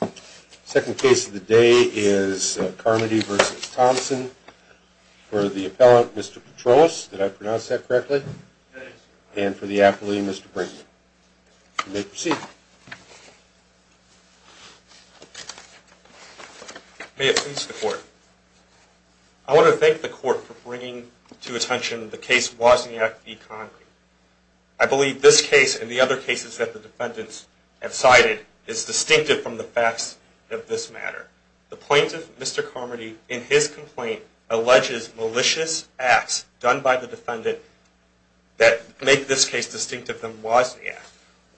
The second case of the day is Carmody v. Thompson for the appellant, Mr. Petrolos, did I pronounce that correctly? Yes. And for the appellee, Mr. Brinkman. You may proceed. May it please the court. I want to thank the court for bringing to attention the case Wozniak v. Concord. I believe this case and the other cases that the defendants have cited is distinctive from the facts of this matter. The plaintiff, Mr. Carmody, in his complaint, alleges malicious acts done by the defendant that make this case distinctive from Wozniak.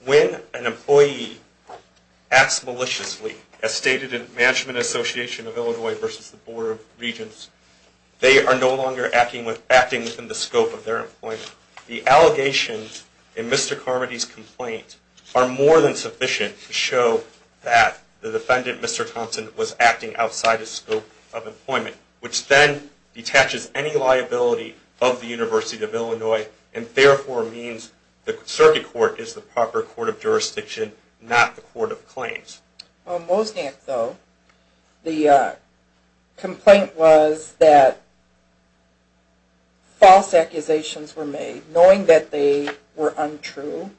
When an employee acts maliciously, as stated in Management Association of Illinois v. the Board of Regents, they are no longer acting within the scope of their employment. The allegations in Mr. Carmody's complaint are more than sufficient to show that the defendant, Mr. Thompson, was acting outside the scope of employment, which then detaches any liability of the University of Illinois and therefore means the circuit court is the proper court of jurisdiction, not the court of claims. On Wozniak, though, the complaint was that false accusations were made, knowing that they were untrue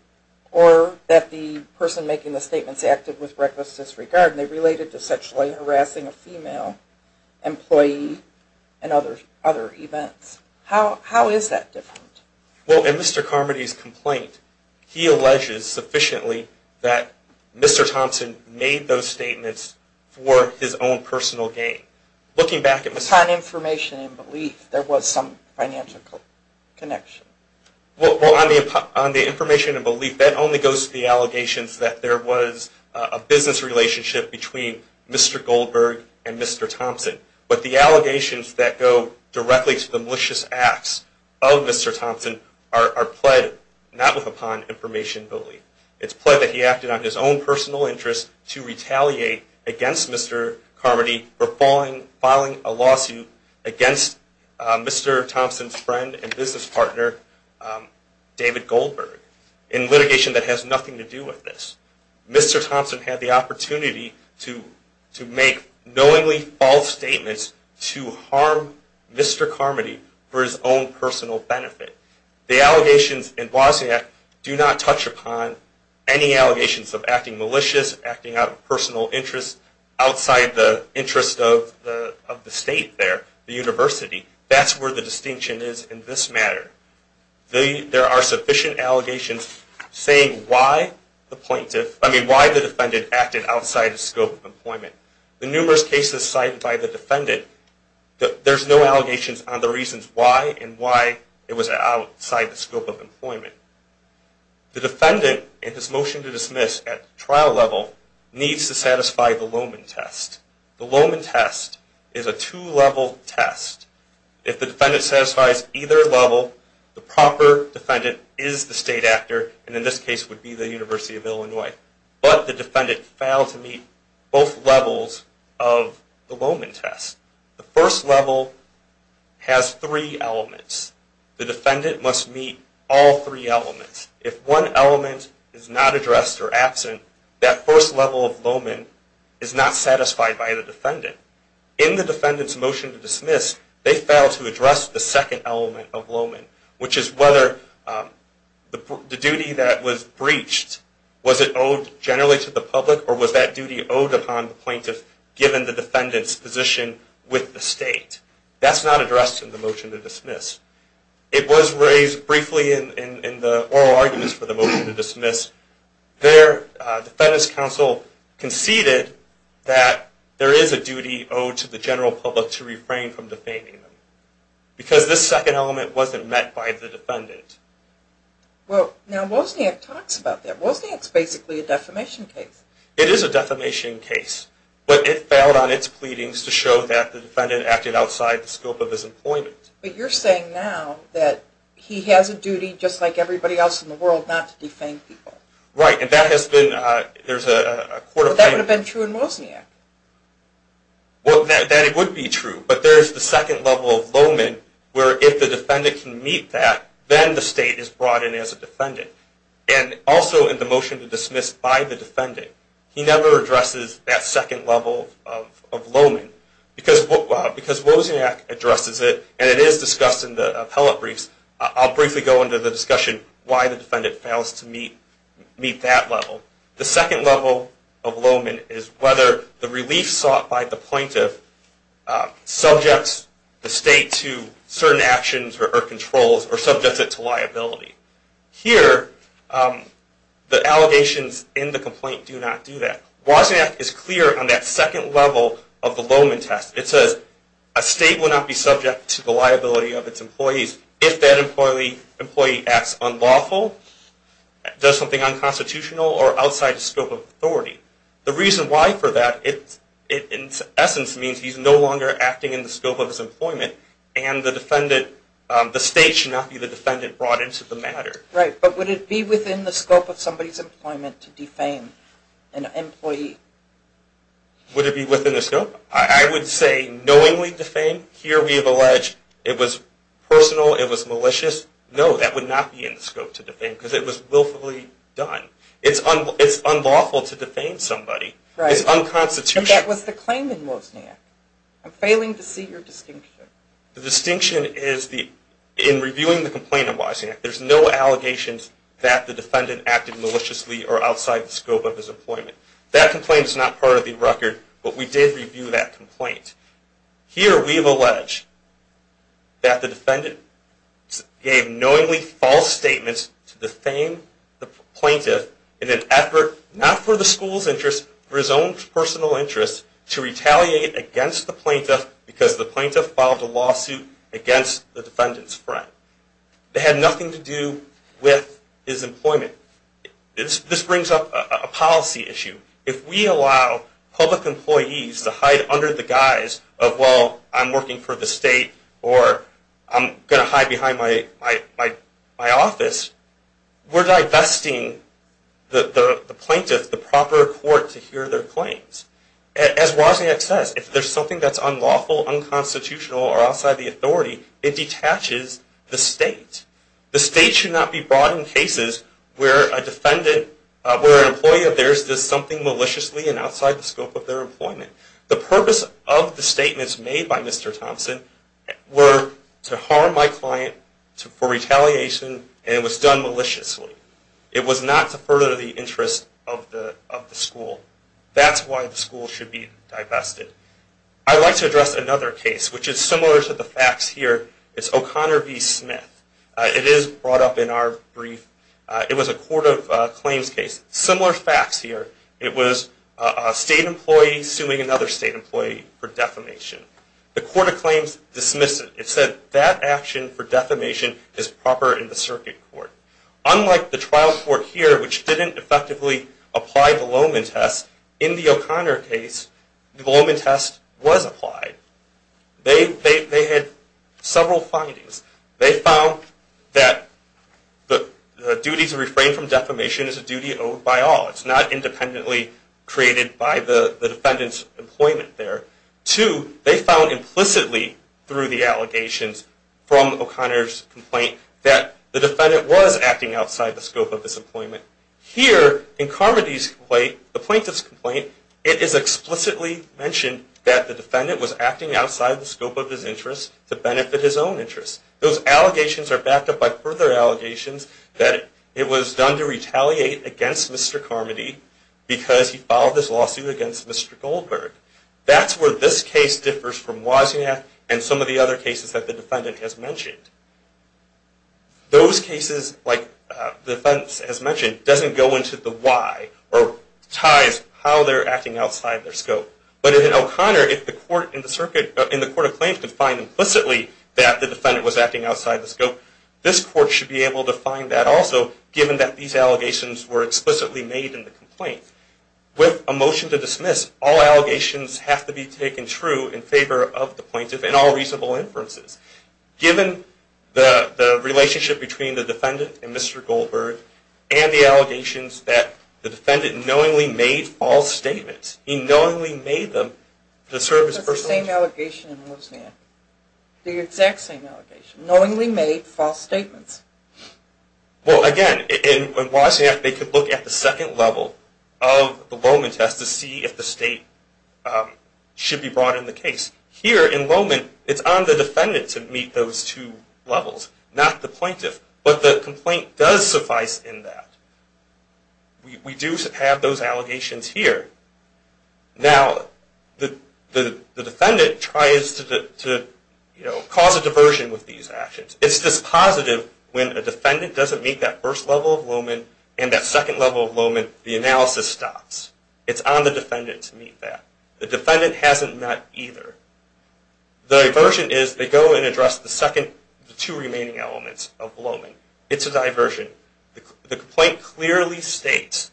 or that the person making the statements acted with reckless disregard and they related to sexually harassing a female employee and other events. How is that different? Well, in Mr. Carmody's complaint, he alleges sufficiently that Mr. Thompson made those statements for his own personal gain. Looking back at Mr. Thompson's... Upon information and belief, there was some financial connection. Well, on the information and belief, that only goes to the allegations that there was a business relationship between Mr. Goldberg and Mr. Thompson. But the allegations that go directly to the malicious acts of Mr. Thompson are pled not with upon information and belief. It's pled that he acted on his own personal interest to retaliate against Mr. Carmody for filing a lawsuit against Mr. Thompson's friend and business partner, David Goldberg, in litigation that has nothing to do with this. Mr. Thompson had the opportunity to make knowingly false statements to harm Mr. Carmody for his own personal benefit. The allegations in Blasek do not touch upon any allegations of acting malicious, acting out of personal interest, outside the interest of the state there, the university. That's where the distinction is in this matter. There are sufficient allegations saying why the defendant acted outside the scope of employment. The numerous cases cited by the defendant, there's no allegations on the reasons why and why it was outside the scope of employment. The defendant, in his motion to dismiss at trial level, needs to satisfy the Lohman test. The Lohman test is a two-level test. If the defendant satisfies either level, the proper defendant is the state actor, and in this case would be the University of Illinois. But the defendant failed to meet both levels of the Lohman test. The first level has three elements. The defendant must meet all three elements. If one element is not addressed or absent, that first level of Lohman is not satisfied by the defendant. In the defendant's motion to dismiss, they failed to address the second element of Lohman, which is whether the duty that was breached, was it owed generally to the public or was that duty owed upon the plaintiff given the defendant's position with the state. That's not addressed in the motion to dismiss. It was raised briefly in the oral arguments for the motion to dismiss. Their defendant's counsel conceded that there is a duty owed to the general public to refrain from defaming them, because this second element wasn't met by the defendant. Well now Wozniak talks about that. Wozniak's basically a defamation case. It is a defamation case, but it failed on its pleadings to show that the defendant acted outside the scope of his employment. But you're saying now that he has a duty just like everybody else in the world not to defame people? Right. And that has been, there's a court of claim. But that would have been true in Wozniak. Well, that it would be true, but there's the second level of Lohman where if the defendant can meet that, then the state is brought in as a defendant. And also in the motion to dismiss by the defendant, he never addresses that second level of Lohman. Because Wozniak addresses it, and it is discussed in the appellate briefs, I'll briefly go into the discussion why the defendant fails to meet that level. The second level of Lohman is whether the relief sought by the plaintiff subjects the state to certain actions or controls, or subjects it to liability. Here, the allegations in the complaint do not do that. Wozniak is clear on that second level of the Lohman test. It says, a state will not be subject to the liability of its employees if that employee acts unlawful, does something unconstitutional, or outside the scope of authority. The reason why for that, in essence, means he's no longer acting in the scope of his employment, and the state should not be the defendant brought into the matter. Right. But would it be within the scope of somebody's employment to defame an employee? Would it be within the scope? I would say knowingly defame. Here, we have alleged it was personal, it was malicious. No, that would not be in the scope to defame, because it was willfully done. It's unlawful to defame somebody. Right. It's unconstitutional. But that was the claim in Wozniak. I'm failing to see your distinction. The distinction is, in reviewing the complaint in Wozniak, there's no allegations that the defendant acted maliciously or outside the scope of his employment. That complaint is not part of the record, but we did review that complaint. Here, we have alleged that the defendant gave knowingly false statements to defame the plaintiff in an effort, not for the school's interest, for his own personal interest, to retaliate against the plaintiff, because the plaintiff filed a lawsuit against the defendant's friend. It had nothing to do with his employment. This brings up a policy issue. If we allow public employees to hide under the guise of, well, I'm working for the state, or I'm going to hide behind my office, we're divesting the plaintiff, the proper court, to hear their claims. As Wozniak says, if there's something that's unlawful, unconstitutional, or outside the authority, it detaches the state. The state should not be brought in cases where an employee of theirs does something maliciously and outside the scope of their employment. The purpose of the statements made by Mr. Thompson were to harm my client for retaliation, and it was done maliciously. It was not to further the interest of the school. That's why the school should be divested. I'd like to address another case, which is similar to the facts here. It's O'Connor v. Smith. It is brought up in our brief. It was a court of claims case. Similar facts here. It was a state employee suing another state employee for defamation. The court of claims dismissed it. It said that action for defamation is proper in the circuit court. Unlike the trial court here, which didn't effectively apply the Lohman test, in the O'Connor case, the Lohman test was applied. They had several findings. They found that the duty to refrain from defamation is a duty owed by all. It's not independently created by the defendant's employment there. Two, they found implicitly through the allegations from O'Connor's complaint that the defendant was acting outside the scope of his employment. Here, in Carmody's complaint, the plaintiff's complaint, it is explicitly mentioned that the defendant was acting outside the scope of his interest to benefit his own interests. Those allegations are backed up by further allegations that it was done to retaliate against Mr. Carmody because he filed this lawsuit against Mr. Goldberg. That's where this case differs from Wozniak and some of the other cases that the defendant has mentioned. Those cases, like the defense has mentioned, doesn't go into the why or ties how they're acting outside their scope. But in O'Connor, if the court in the court of claims could find implicitly that the defendant was acting outside the scope, this court should be able to find that also given that these allegations were explicitly made in the complaint. With a motion to dismiss, all allegations have to be taken true in favor of the plaintiff and all reasonable inferences. Given the relationship between the defendant and Mr. Goldberg and the allegations that the defendant knowingly made false statements. He knowingly made them to serve his personal interest. The same allegation in Wozniak. The exact same allegation. Knowingly made false statements. Well, again, in Wozniak, they could look at the second level of the Loman test to see if the state should be brought in the case. Here, in Loman, it's on the defendant to meet those two levels, not the plaintiff. But the complaint does suffice in that. We do have those allegations here. Now, the defendant tries to cause a diversion with these actions. It's dispositive when a defendant doesn't meet that first level of Loman and that second level of Loman, the analysis stops. It's on the defendant to meet that. The defendant hasn't met either. The diversion is they go and address the two remaining elements of Loman. It's a diversion. The complaint clearly states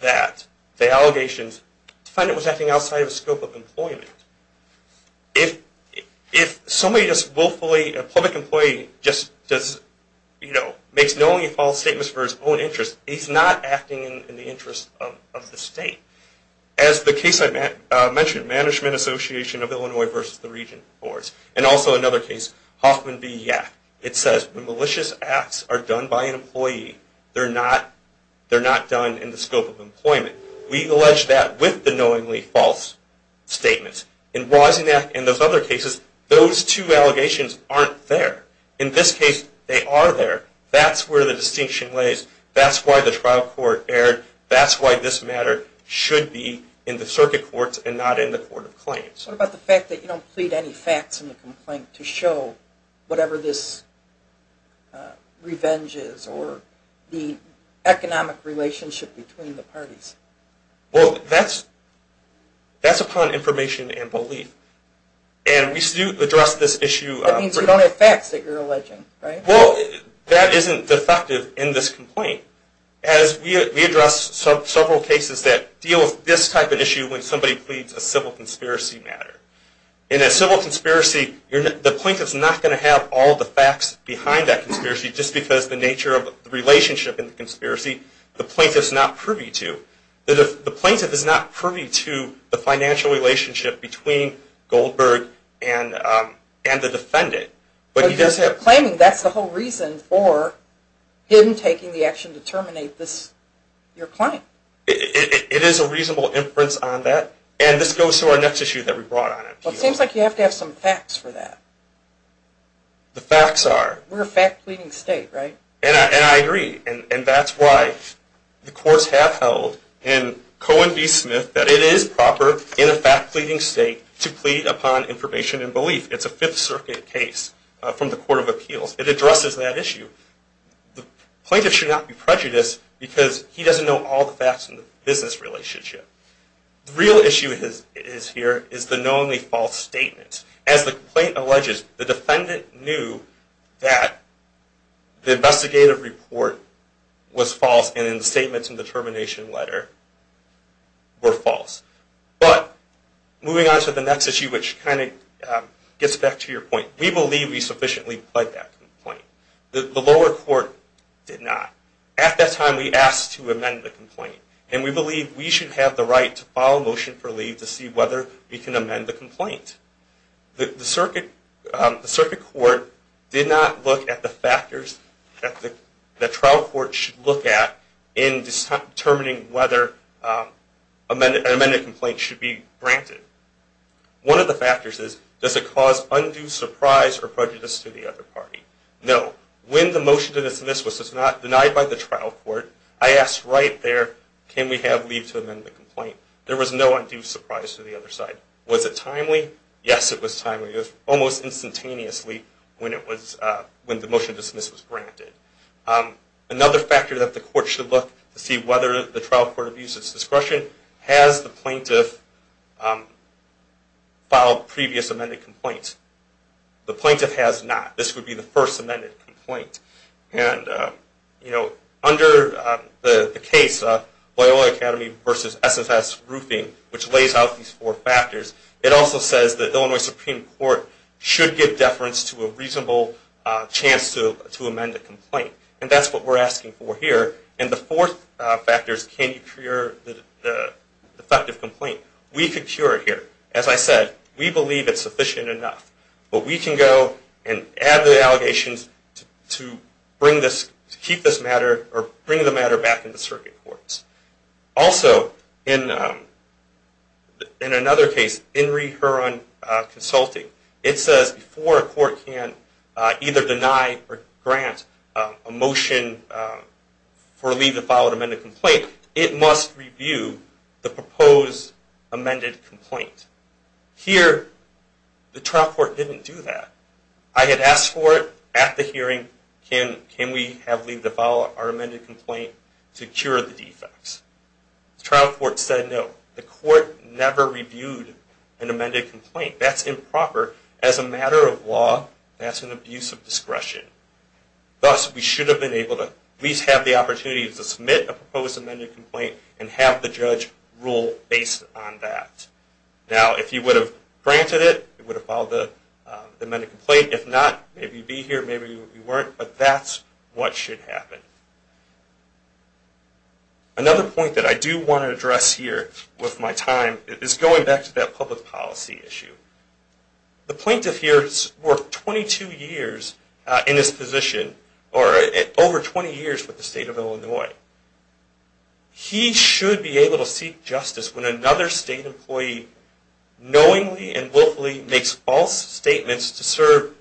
that the allegations, the defendant was acting outside of the scope of employment. If somebody just willfully, a public employee, just makes knowingly false statements for his own interest, he's not acting in the interest of the state. As the case I mentioned, Management Association of Illinois v. The Region reports, and also another case, Hoffman v. Yack, it says when malicious acts are done by an employee, they're not done in the scope of employment. We allege that with the knowingly false statements. In Wozniak and those other cases, those two allegations aren't there. In this case, they are there. That's where the distinction lays. That's why the trial court erred. That's why this matter should be in the circuit courts and not in the court of claims. What about the fact that you don't plead any facts in the complaint to show whatever this revenge is or the economic relationship between the parties? Well, that's upon information and belief. And we still address this issue. That means you don't have facts that you're alleging, right? Well, that isn't defective in this complaint. We address several cases that deal with this type of issue when somebody pleads a civil conspiracy matter. In a civil conspiracy, the plaintiff is not going to have all the facts behind that conspiracy just because of the nature of the relationship in the conspiracy the plaintiff is not privy to. The plaintiff is not privy to the financial relationship between Goldberg and the defendant. But you're claiming that's the whole reason for him taking the action to terminate your claim. It is a reasonable inference on that. And this goes to our next issue that we brought on in appeals. Well, it seems like you have to have some facts for that. The facts are? We're a fact-pleading state, right? And I agree. And that's why the courts have held in Cohen v. Smith that it is proper in a fact-pleading state to plead upon information and belief. It's a Fifth Circuit case from the Court of Appeals. It addresses that issue. The plaintiff should not be prejudiced because he doesn't know all the facts in the business relationship. The real issue here is the knowingly false statement. As the complaint alleges, the defendant knew that the investigative report was false and the statements in the termination letter were false. But moving on to the next issue, which kind of gets back to your point, we believe we sufficiently pled that complaint. The lower court did not. At that time, we asked to amend the complaint. And we believe we should have the right to file a motion for leave to see whether we can amend the complaint. The Circuit Court did not look at the factors that the trial court should look at in determining whether an amended complaint should be granted. One of the factors is, does it cause undue surprise or prejudice to the other party? No. When the motion to dismiss was denied by the trial court, I asked right there, can we have leave to amend the complaint? There was no undue surprise to the other side. Was it timely? Yes, it was timely. It was almost instantaneously when the motion to dismiss was granted. Another factor that the court should look at to see whether the trial court views its discretion, has the plaintiff filed previous amended complaints? The plaintiff has not. This would be the first amended complaint. Under the case, Loyola Academy v. SSS Roofing, which lays out these four factors, it also says the Illinois Supreme Court should give deference to a reasonable chance to amend a complaint. And that's what we're asking for here. And the fourth factor is, can you cure the defective complaint? We could cure it here. As I said, we believe it's sufficient enough. But we can go and add the allegations to keep this matter or bring the matter back in the Circuit Courts. Also, in another case, in Reheron Consulting, it says before a court can either deny or grant a motion for leave to file an amended complaint, it must review the proposed amended complaint. Here, the trial court didn't do that. I had asked for it at the hearing, can we have leave to file our amended complaint to cure the defects? The trial court said no. The court never reviewed an amended complaint. That's improper as a matter of law. That's an abuse of discretion. Thus, we should have been able to at least have the opportunity to submit a proposed amended complaint and have the judge rule based on that. Now, if you would have granted it, you would have filed the amended complaint. If not, maybe you'd be here, maybe you weren't. But that's what should happen. Another point that I do want to address here with my time is going back to that public policy issue. The plaintiff here has worked 22 years in this position, or over 20 years with the State of Illinois. He should be able to seek justice when another State employee knowingly and willfully makes false statements to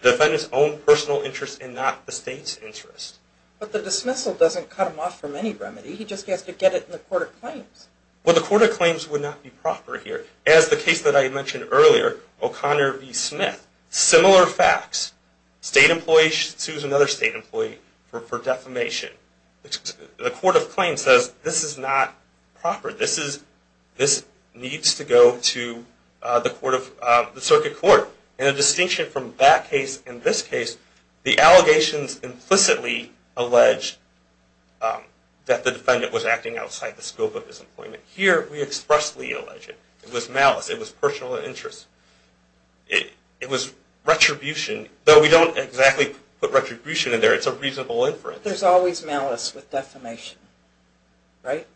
defend his own personal interest and not the State's interest. But the dismissal doesn't cut him off from any remedy. He just has to get it in the Court of Claims. Well, the Court of Claims would not be proper here. As the case that I mentioned earlier, O'Connor v. Smith, similar facts. State employee sues another State employee for defamation. The Court of Claims says this is not proper. This needs to go to the Circuit Court. In a distinction from that case and this case, the allegations implicitly allege that the defendant was acting outside the scope of his employment. Here, we expressly allege it. It was malice. It was personal interest. It was retribution. Though we don't exactly put retribution in there. It's a reasonable inference. But there's always malice with defamation, right?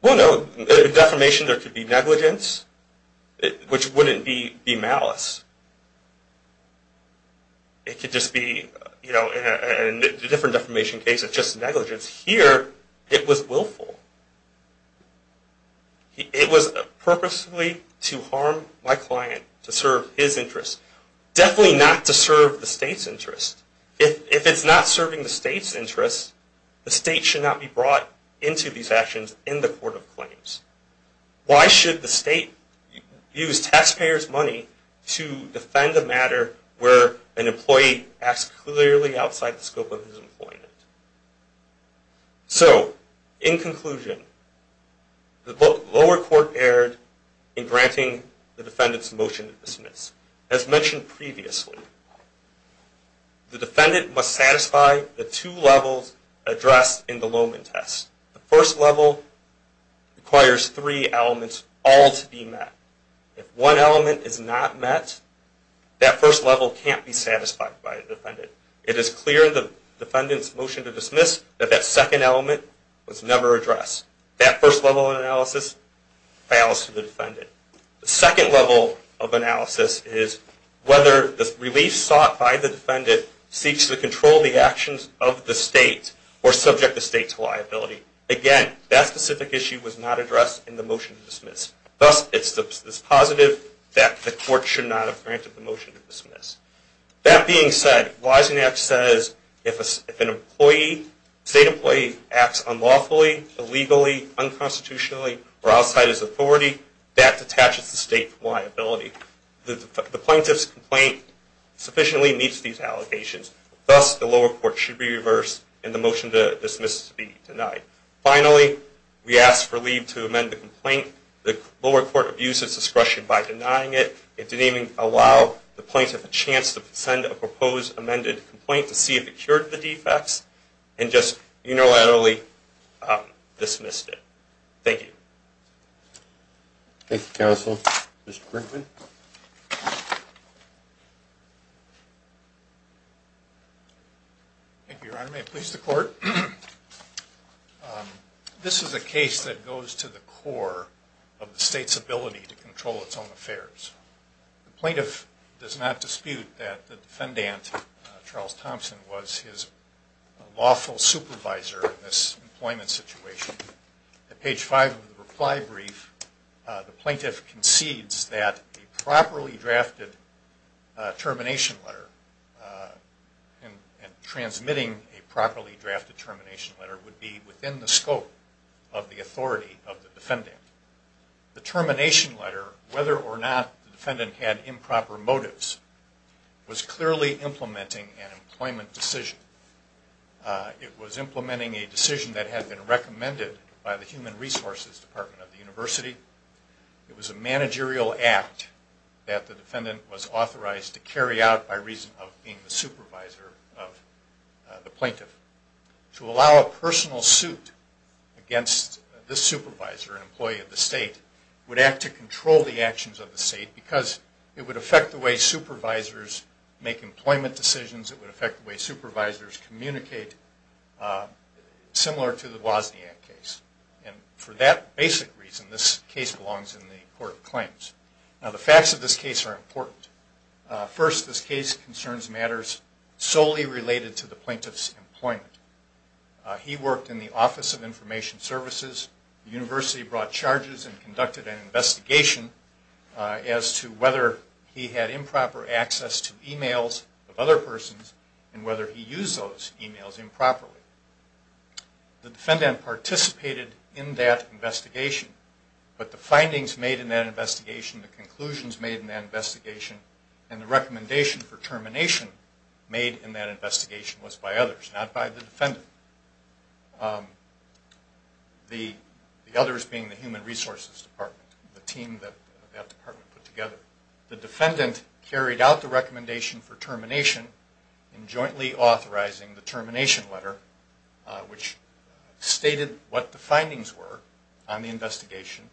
Well, no. In defamation, there could be negligence, which wouldn't be malice. It could just be, you know, in a different defamation case, it's just negligence. Here, it was willful. It was purposely to harm my client, to serve his interests. Definitely not to serve the State's interests. If it's not serving the State's interests, the State should not be brought into these actions in the Court of Claims. Why should the State use taxpayers' money to defend a matter where an employee acts clearly outside the scope of his employment? So, in conclusion, the lower court erred in granting the defendant's motion to dismiss. As mentioned previously, the defendant must satisfy the two levels addressed in the Lowman test. The first level requires three elements all to be met. If one element is not met, that first level can't be satisfied by the defendant. It is clear in the defendant's motion to dismiss that that second element was never addressed. That first level of analysis fails to the defendant. The second level of analysis is whether the relief sought by the defendant seeks to control the actions of the State or subject the State to liability. Again, that specific issue was not addressed in the motion to dismiss. Thus, it's positive that the court should not have granted the motion to dismiss. That being said, Wiesenach says if a State employee acts unlawfully, illegally, unconstitutionally, or outside his authority, that detaches the State from liability. The plaintiff's complaint sufficiently meets these allegations. Thus, the lower court should be reversed and the motion to dismiss be denied. Finally, we ask for leave to amend the complaint. The lower court abused its discretion by denying it. It didn't even allow the plaintiff a chance to send a proposed amended complaint to see if it cured the defects and just unilaterally dismissed it. Thank you. Thank you, counsel. Mr. Brinkman? Thank you, Your Honor. May it please the court? This is a case that goes to the core of the State's ability to control its own affairs. The plaintiff does not dispute that the defendant, Charles Thompson, was his lawful supervisor in this employment situation. At page 5 of the reply brief, the plaintiff concedes that a properly drafted termination letter and transmitting a properly drafted termination letter would be within the scope of the authority of the defendant. The termination letter, whether or not the defendant had improper motives, was clearly implementing an employment decision. It was implementing a decision that had been recommended by the Human Resources Department of the University. It was a managerial act that the defendant was authorized to carry out by reason of being the supervisor of the plaintiff. To allow a personal suit against this supervisor, an employee of the State, would act to control the actions of the State because it would affect the way supervisors make employment decisions. It would affect the way supervisors communicate, similar to the Wozniak case. And for that basic reason, this case belongs in the Court of Claims. Now, the facts of this case are important. First, this case concerns matters solely related to the plaintiff's employment. He worked in the Office of Information Services. The University brought charges and conducted an investigation as to whether he had improper access to emails of other persons and whether he used those emails improperly. The defendant participated in that investigation, but the findings made in that investigation, the conclusions made in that investigation, and the recommendation for termination made in that investigation was by others, not by the defendant. The others being the Human Resources Department, the team that that department put together. The defendant carried out the recommendation for termination in jointly authorizing the termination letter, which stated what the findings were on the investigation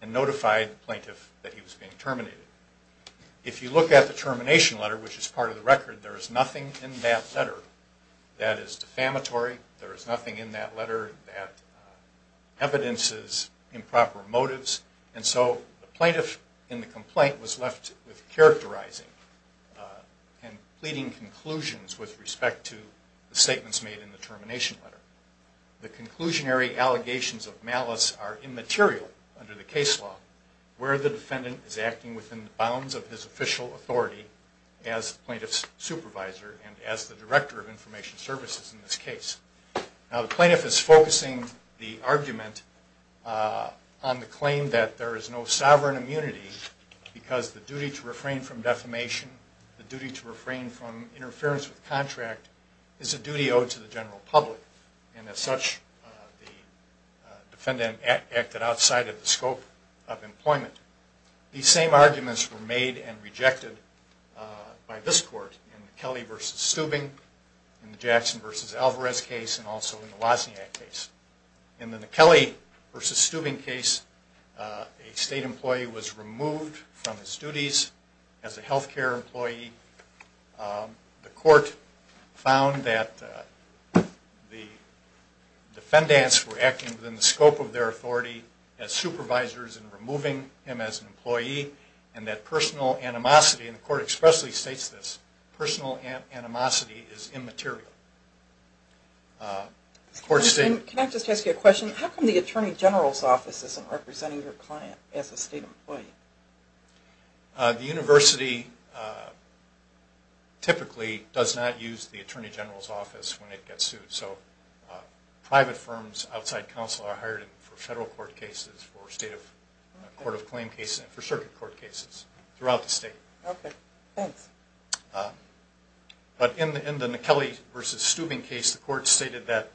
and notified the plaintiff that he was being terminated. If you look at the termination letter, which is part of the record, there is nothing in that letter that is defamatory. There is nothing in that letter that evidences improper motives. And so the plaintiff in the complaint was left with characterizing and pleading conclusions with respect to the statements made in the termination letter. The conclusionary allegations of malice are immaterial under the case law where the defendant is acting within the bounds of his official authority as plaintiff's supervisor and as the director of information services in this case. Now the plaintiff is focusing the argument on the claim that there is no sovereign immunity because the duty to refrain from defamation, the duty to refrain from interference with contract, is a duty owed to the general public. And as such, the defendant acted outside of the scope of employment. These same arguments were made and rejected by this court in the Kelly v. Steubing, in the Jackson v. Alvarez case, and also in the Wozniak case. In the Kelly v. Steubing case, a state employee was removed from his duties as a healthcare employee. The court found that the defendants were acting within the scope of their authority as supervisors and removing him as an employee and that personal animosity, and the court expressly states this, personal animosity is immaterial. Can I just ask you a question? How come the attorney general's office isn't representing your client as a state employee? The university typically does not use the attorney general's office when it gets sued. So private firms outside counsel are hired for federal court cases, for state court of claim cases, and for circuit court cases throughout the state. Okay, thanks. But in the Kelly v. Steubing case, the court stated that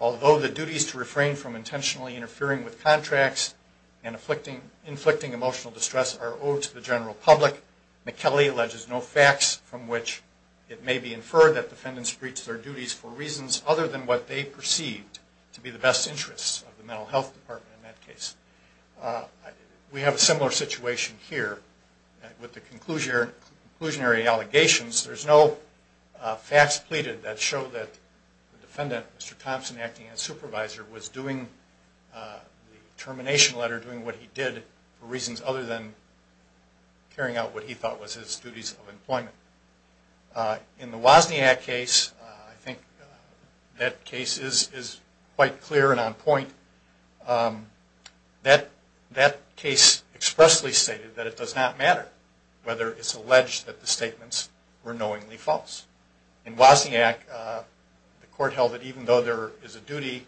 although the duties to refrain from intentionally interfering with contracts and inflicting emotional distress are owed to the general public, McKelley alleges no facts from which it may be inferred that defendants breached their duties for reasons other than what they perceived to be the best interests of the mental health department in that case. We have a similar situation here with the conclusionary allegations. There's no facts pleaded that show that the defendant, Mr. Thompson, acting as supervisor, was doing the termination letter, doing what he did for reasons other than carrying out what he thought was his duties of employment. In the Wozniak case, I think that case is quite clear and on point. That case expressly stated that it does not matter whether it's alleged that the statements were knowingly false. In Wozniak, the court held that even though there is a duty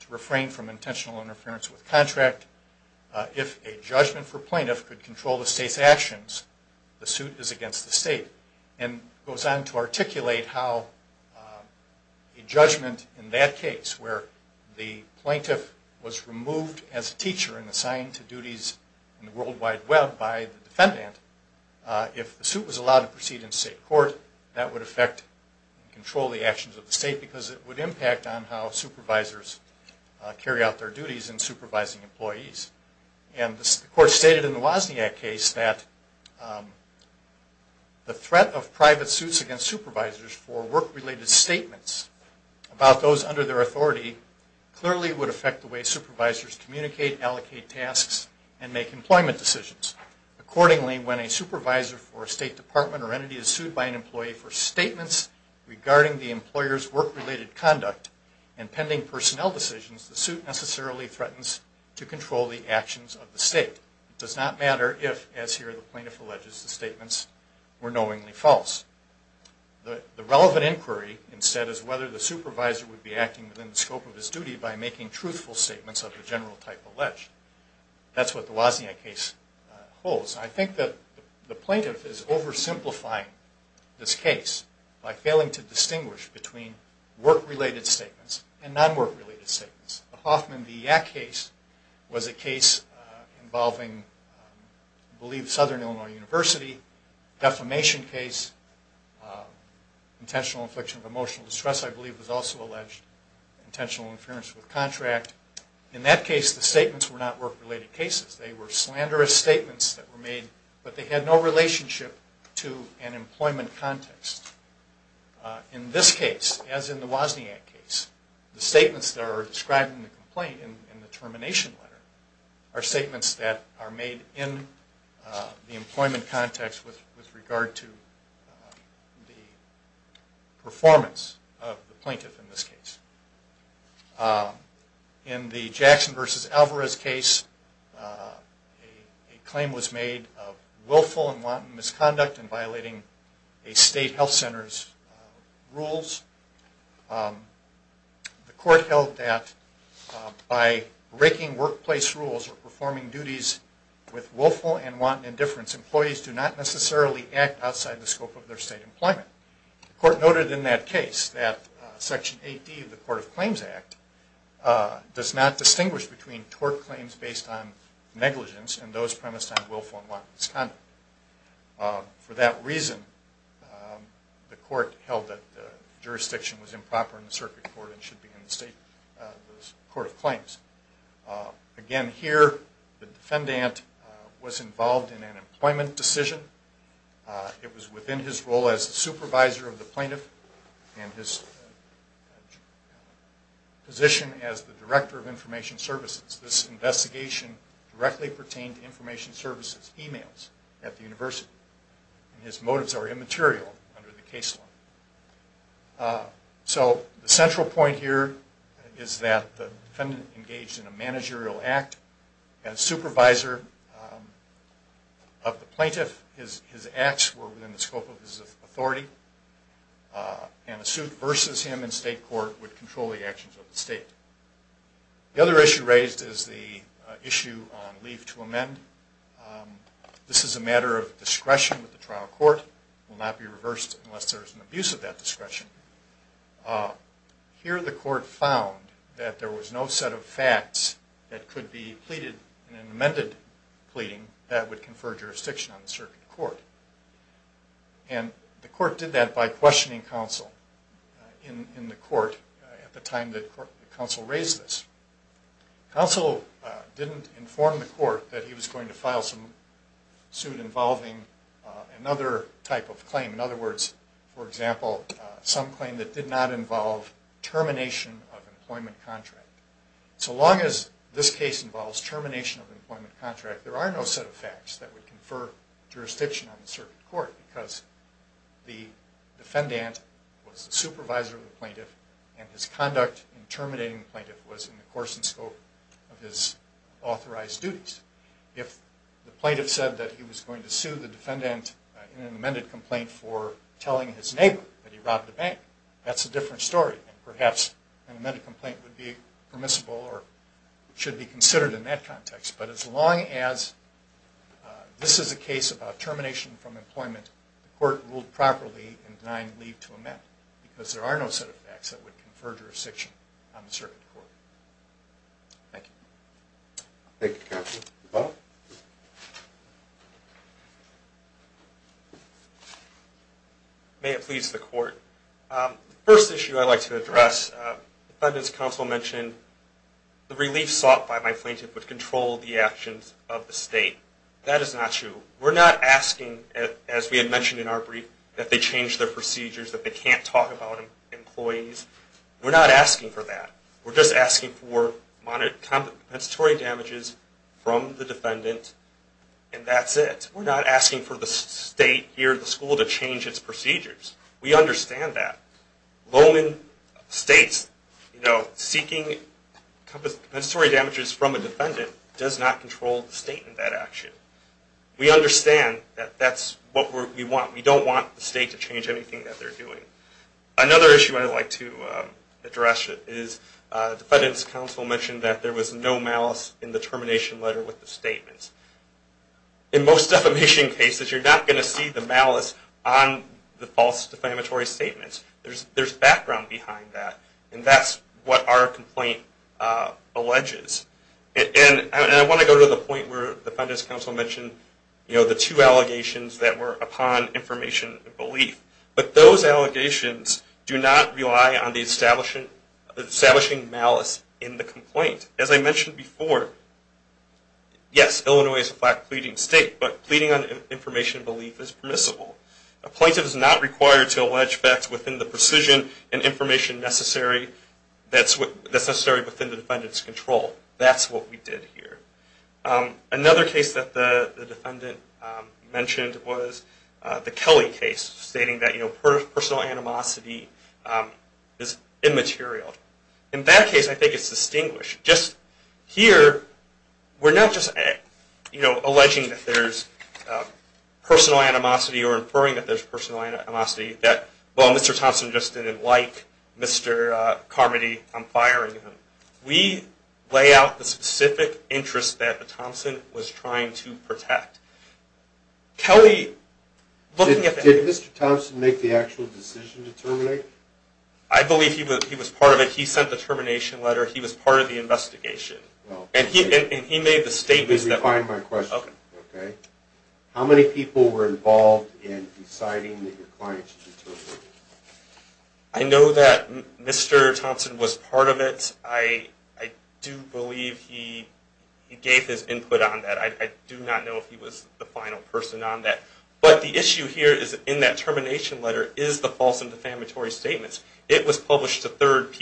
to refrain from intentional interference with contract, if a judgment for plaintiff could control the state's actions, the suit is against the state. And goes on to articulate how a judgment in that case where the plaintiff was removed as a teacher and assigned to duties in the World Wide Web by the defendant, if the suit was allowed to proceed in state court, that would affect and control the actions of the state because it would impact on how supervisors carry out their duties in supervising employees. And the court stated in the Wozniak case that the threat of private suits against supervisors for work-related statements about those under their authority clearly would affect the way supervisors communicate, allocate tasks, and make employment decisions. Accordingly, when a supervisor for a state department or entity is sued by an employee for statements regarding the employer's work-related conduct and pending personnel decisions, the suit necessarily threatens to control the actions of the state. It does not matter if, as here the plaintiff alleges, the statements were knowingly false. The relevant inquiry, instead, is whether the supervisor would be acting within the scope of his duty by making truthful statements of the general type alleged. That's what the Wozniak case holds. I think that the plaintiff is oversimplifying this case by failing to distinguish between work-related statements and non-work-related statements. The Hoffman v. Yak case was a case involving, I believe, Southern Illinois University. The defamation case, intentional infliction of emotional distress, I believe, was also alleged. Intentional interference with contract. In that case, the statements were not work-related cases. They were slanderous statements that were made, but they had no relationship to an employment context. In this case, as in the Wozniak case, the statements that are described in the complaint in the termination letter are statements that are made in the employment context with regard to the performance of the plaintiff in this case. In the Jackson v. Alvarez case, a claim was made of willful and wanton misconduct in violating a state health center's rules. The court held that by breaking workplace rules or performing duties with willful and wanton indifference, employees do not necessarily act outside the scope of their state employment. The court noted in that case that Section 8D of the Court of Claims Act does not distinguish between tort claims based on negligence and those premised on willful and wanton misconduct. For that reason, the court held that the jurisdiction was improper in the circuit court and should be in the state court of claims. Again, here, the defendant was involved in an employment decision. It was within his role as the supervisor of the plaintiff and his position as the director of information services. This investigation directly pertained to information services emails at the university. His motives are immaterial under the case law. The central point here is that the defendant engaged in a managerial act as supervisor of the plaintiff. His acts were within the scope of his authority and a suit versus him in state court would control the actions of the state. The other issue raised is the issue on leave to amend. This is a matter of discretion with the trial court. It will not be reversed unless there is an abuse of that discretion. Here, the court found that there was no set of facts that could be pleaded in an amended pleading that would confer jurisdiction on the circuit court. The court did that by questioning counsel in the court at the time that counsel raised this. Counsel didn't inform the court that he was going to file some suit involving another type of claim. In other words, for example, some claim that did not involve termination of employment contract. So long as this case involves termination of employment contract, there are no set of facts that would confer jurisdiction on the circuit court because the defendant was the supervisor of the plaintiff and his conduct in terminating the plaintiff was in the course and scope of his authorized duties. If the plaintiff said that he was going to sue the defendant in an amended complaint for telling his neighbor that he robbed a bank, that's a different story. Perhaps an amended complaint would be permissible or should be considered in that context. But as long as this is a case about termination from employment, the court ruled properly in denying leave to amend because there are no set of facts that would confer jurisdiction on the circuit court. Thank you. May it please the court. The first issue I'd like to address, the defendant's counsel mentioned the relief sought by my plaintiff would control the actions of the state. That is not true. We're not asking, as we had mentioned in our brief, that they change their procedures, that they can't talk about employees. We're not asking for that. We're just asking for compensatory damages from the defendant and that's it. We're not asking for the state here at the school to change its procedures. We understand that. Seeking compensatory damages from a defendant does not control the state in that action. We understand that that's what we want. We don't want the state to change anything that they're doing. Another issue I'd like to address is the defendant's counsel mentioned that there was no malice in the termination letter with the statements. In most defamation cases, you're not going to see the malice on the false defamatory statements. There's background behind that and that's what our complaint alleges. And I want to go to the point where the defendant's counsel mentioned the two allegations that were upon information and belief. But those allegations do not rely on the establishing malice in the complaint. As I mentioned before, yes, Illinois is a flat pleading state, but pleading on information and belief is permissible. A plaintiff is not required to allege facts within the precision and information necessary within the defendant's control. That's what we did here. Another case that the defendant mentioned was the Kelly case, stating that personal animosity is immaterial. In that case, I think it's distinguished. Just here, we're not just alleging that there's personal animosity or inferring that there's personal animosity that, well, Mr. Thompson just didn't like Mr. Carmody. I'm firing him. We lay out the specific interests that Thompson was trying to protect. Did Mr. Thompson make the actual decision to terminate? I believe he was part of it. He sent the termination letter. He was part of the investigation. How many people were involved in deciding that your client should be terminated? I know that Mr. Thompson was part of it. I do believe he gave his input on that. I do not know if he was the final person on that. But the issue here is in that termination letter is the false and defamatory statements. It was published to third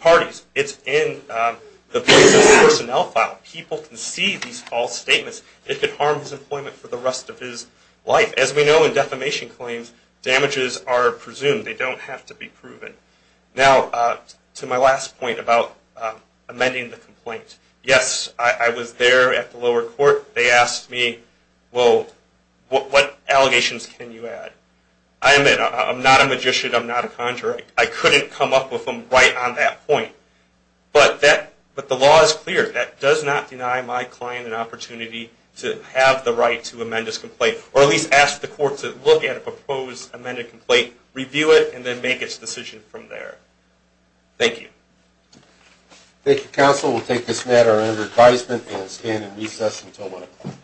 parties. It's in the plaintiff's personnel file. People can see these false statements. It could harm his employment for the rest of his life. As we know, in defamation claims, damages are presumed. They don't have to be proven. Now, to my last point about amending the complaint. Yes, I was there at the lower court. They asked me, well, what allegations can you add? I admit, I'm not a magician. I'm not a conjurer. I couldn't come up with them right on that point. But the law is clear. That does not deny my client an opportunity to have the right to amend his complaint. Or at least ask the court to look at a proposed amended complaint, review it, and then make its decision from there. Thank you. Thank you, counsel. We'll take this matter under advisement and stand in recess until 1 o'clock.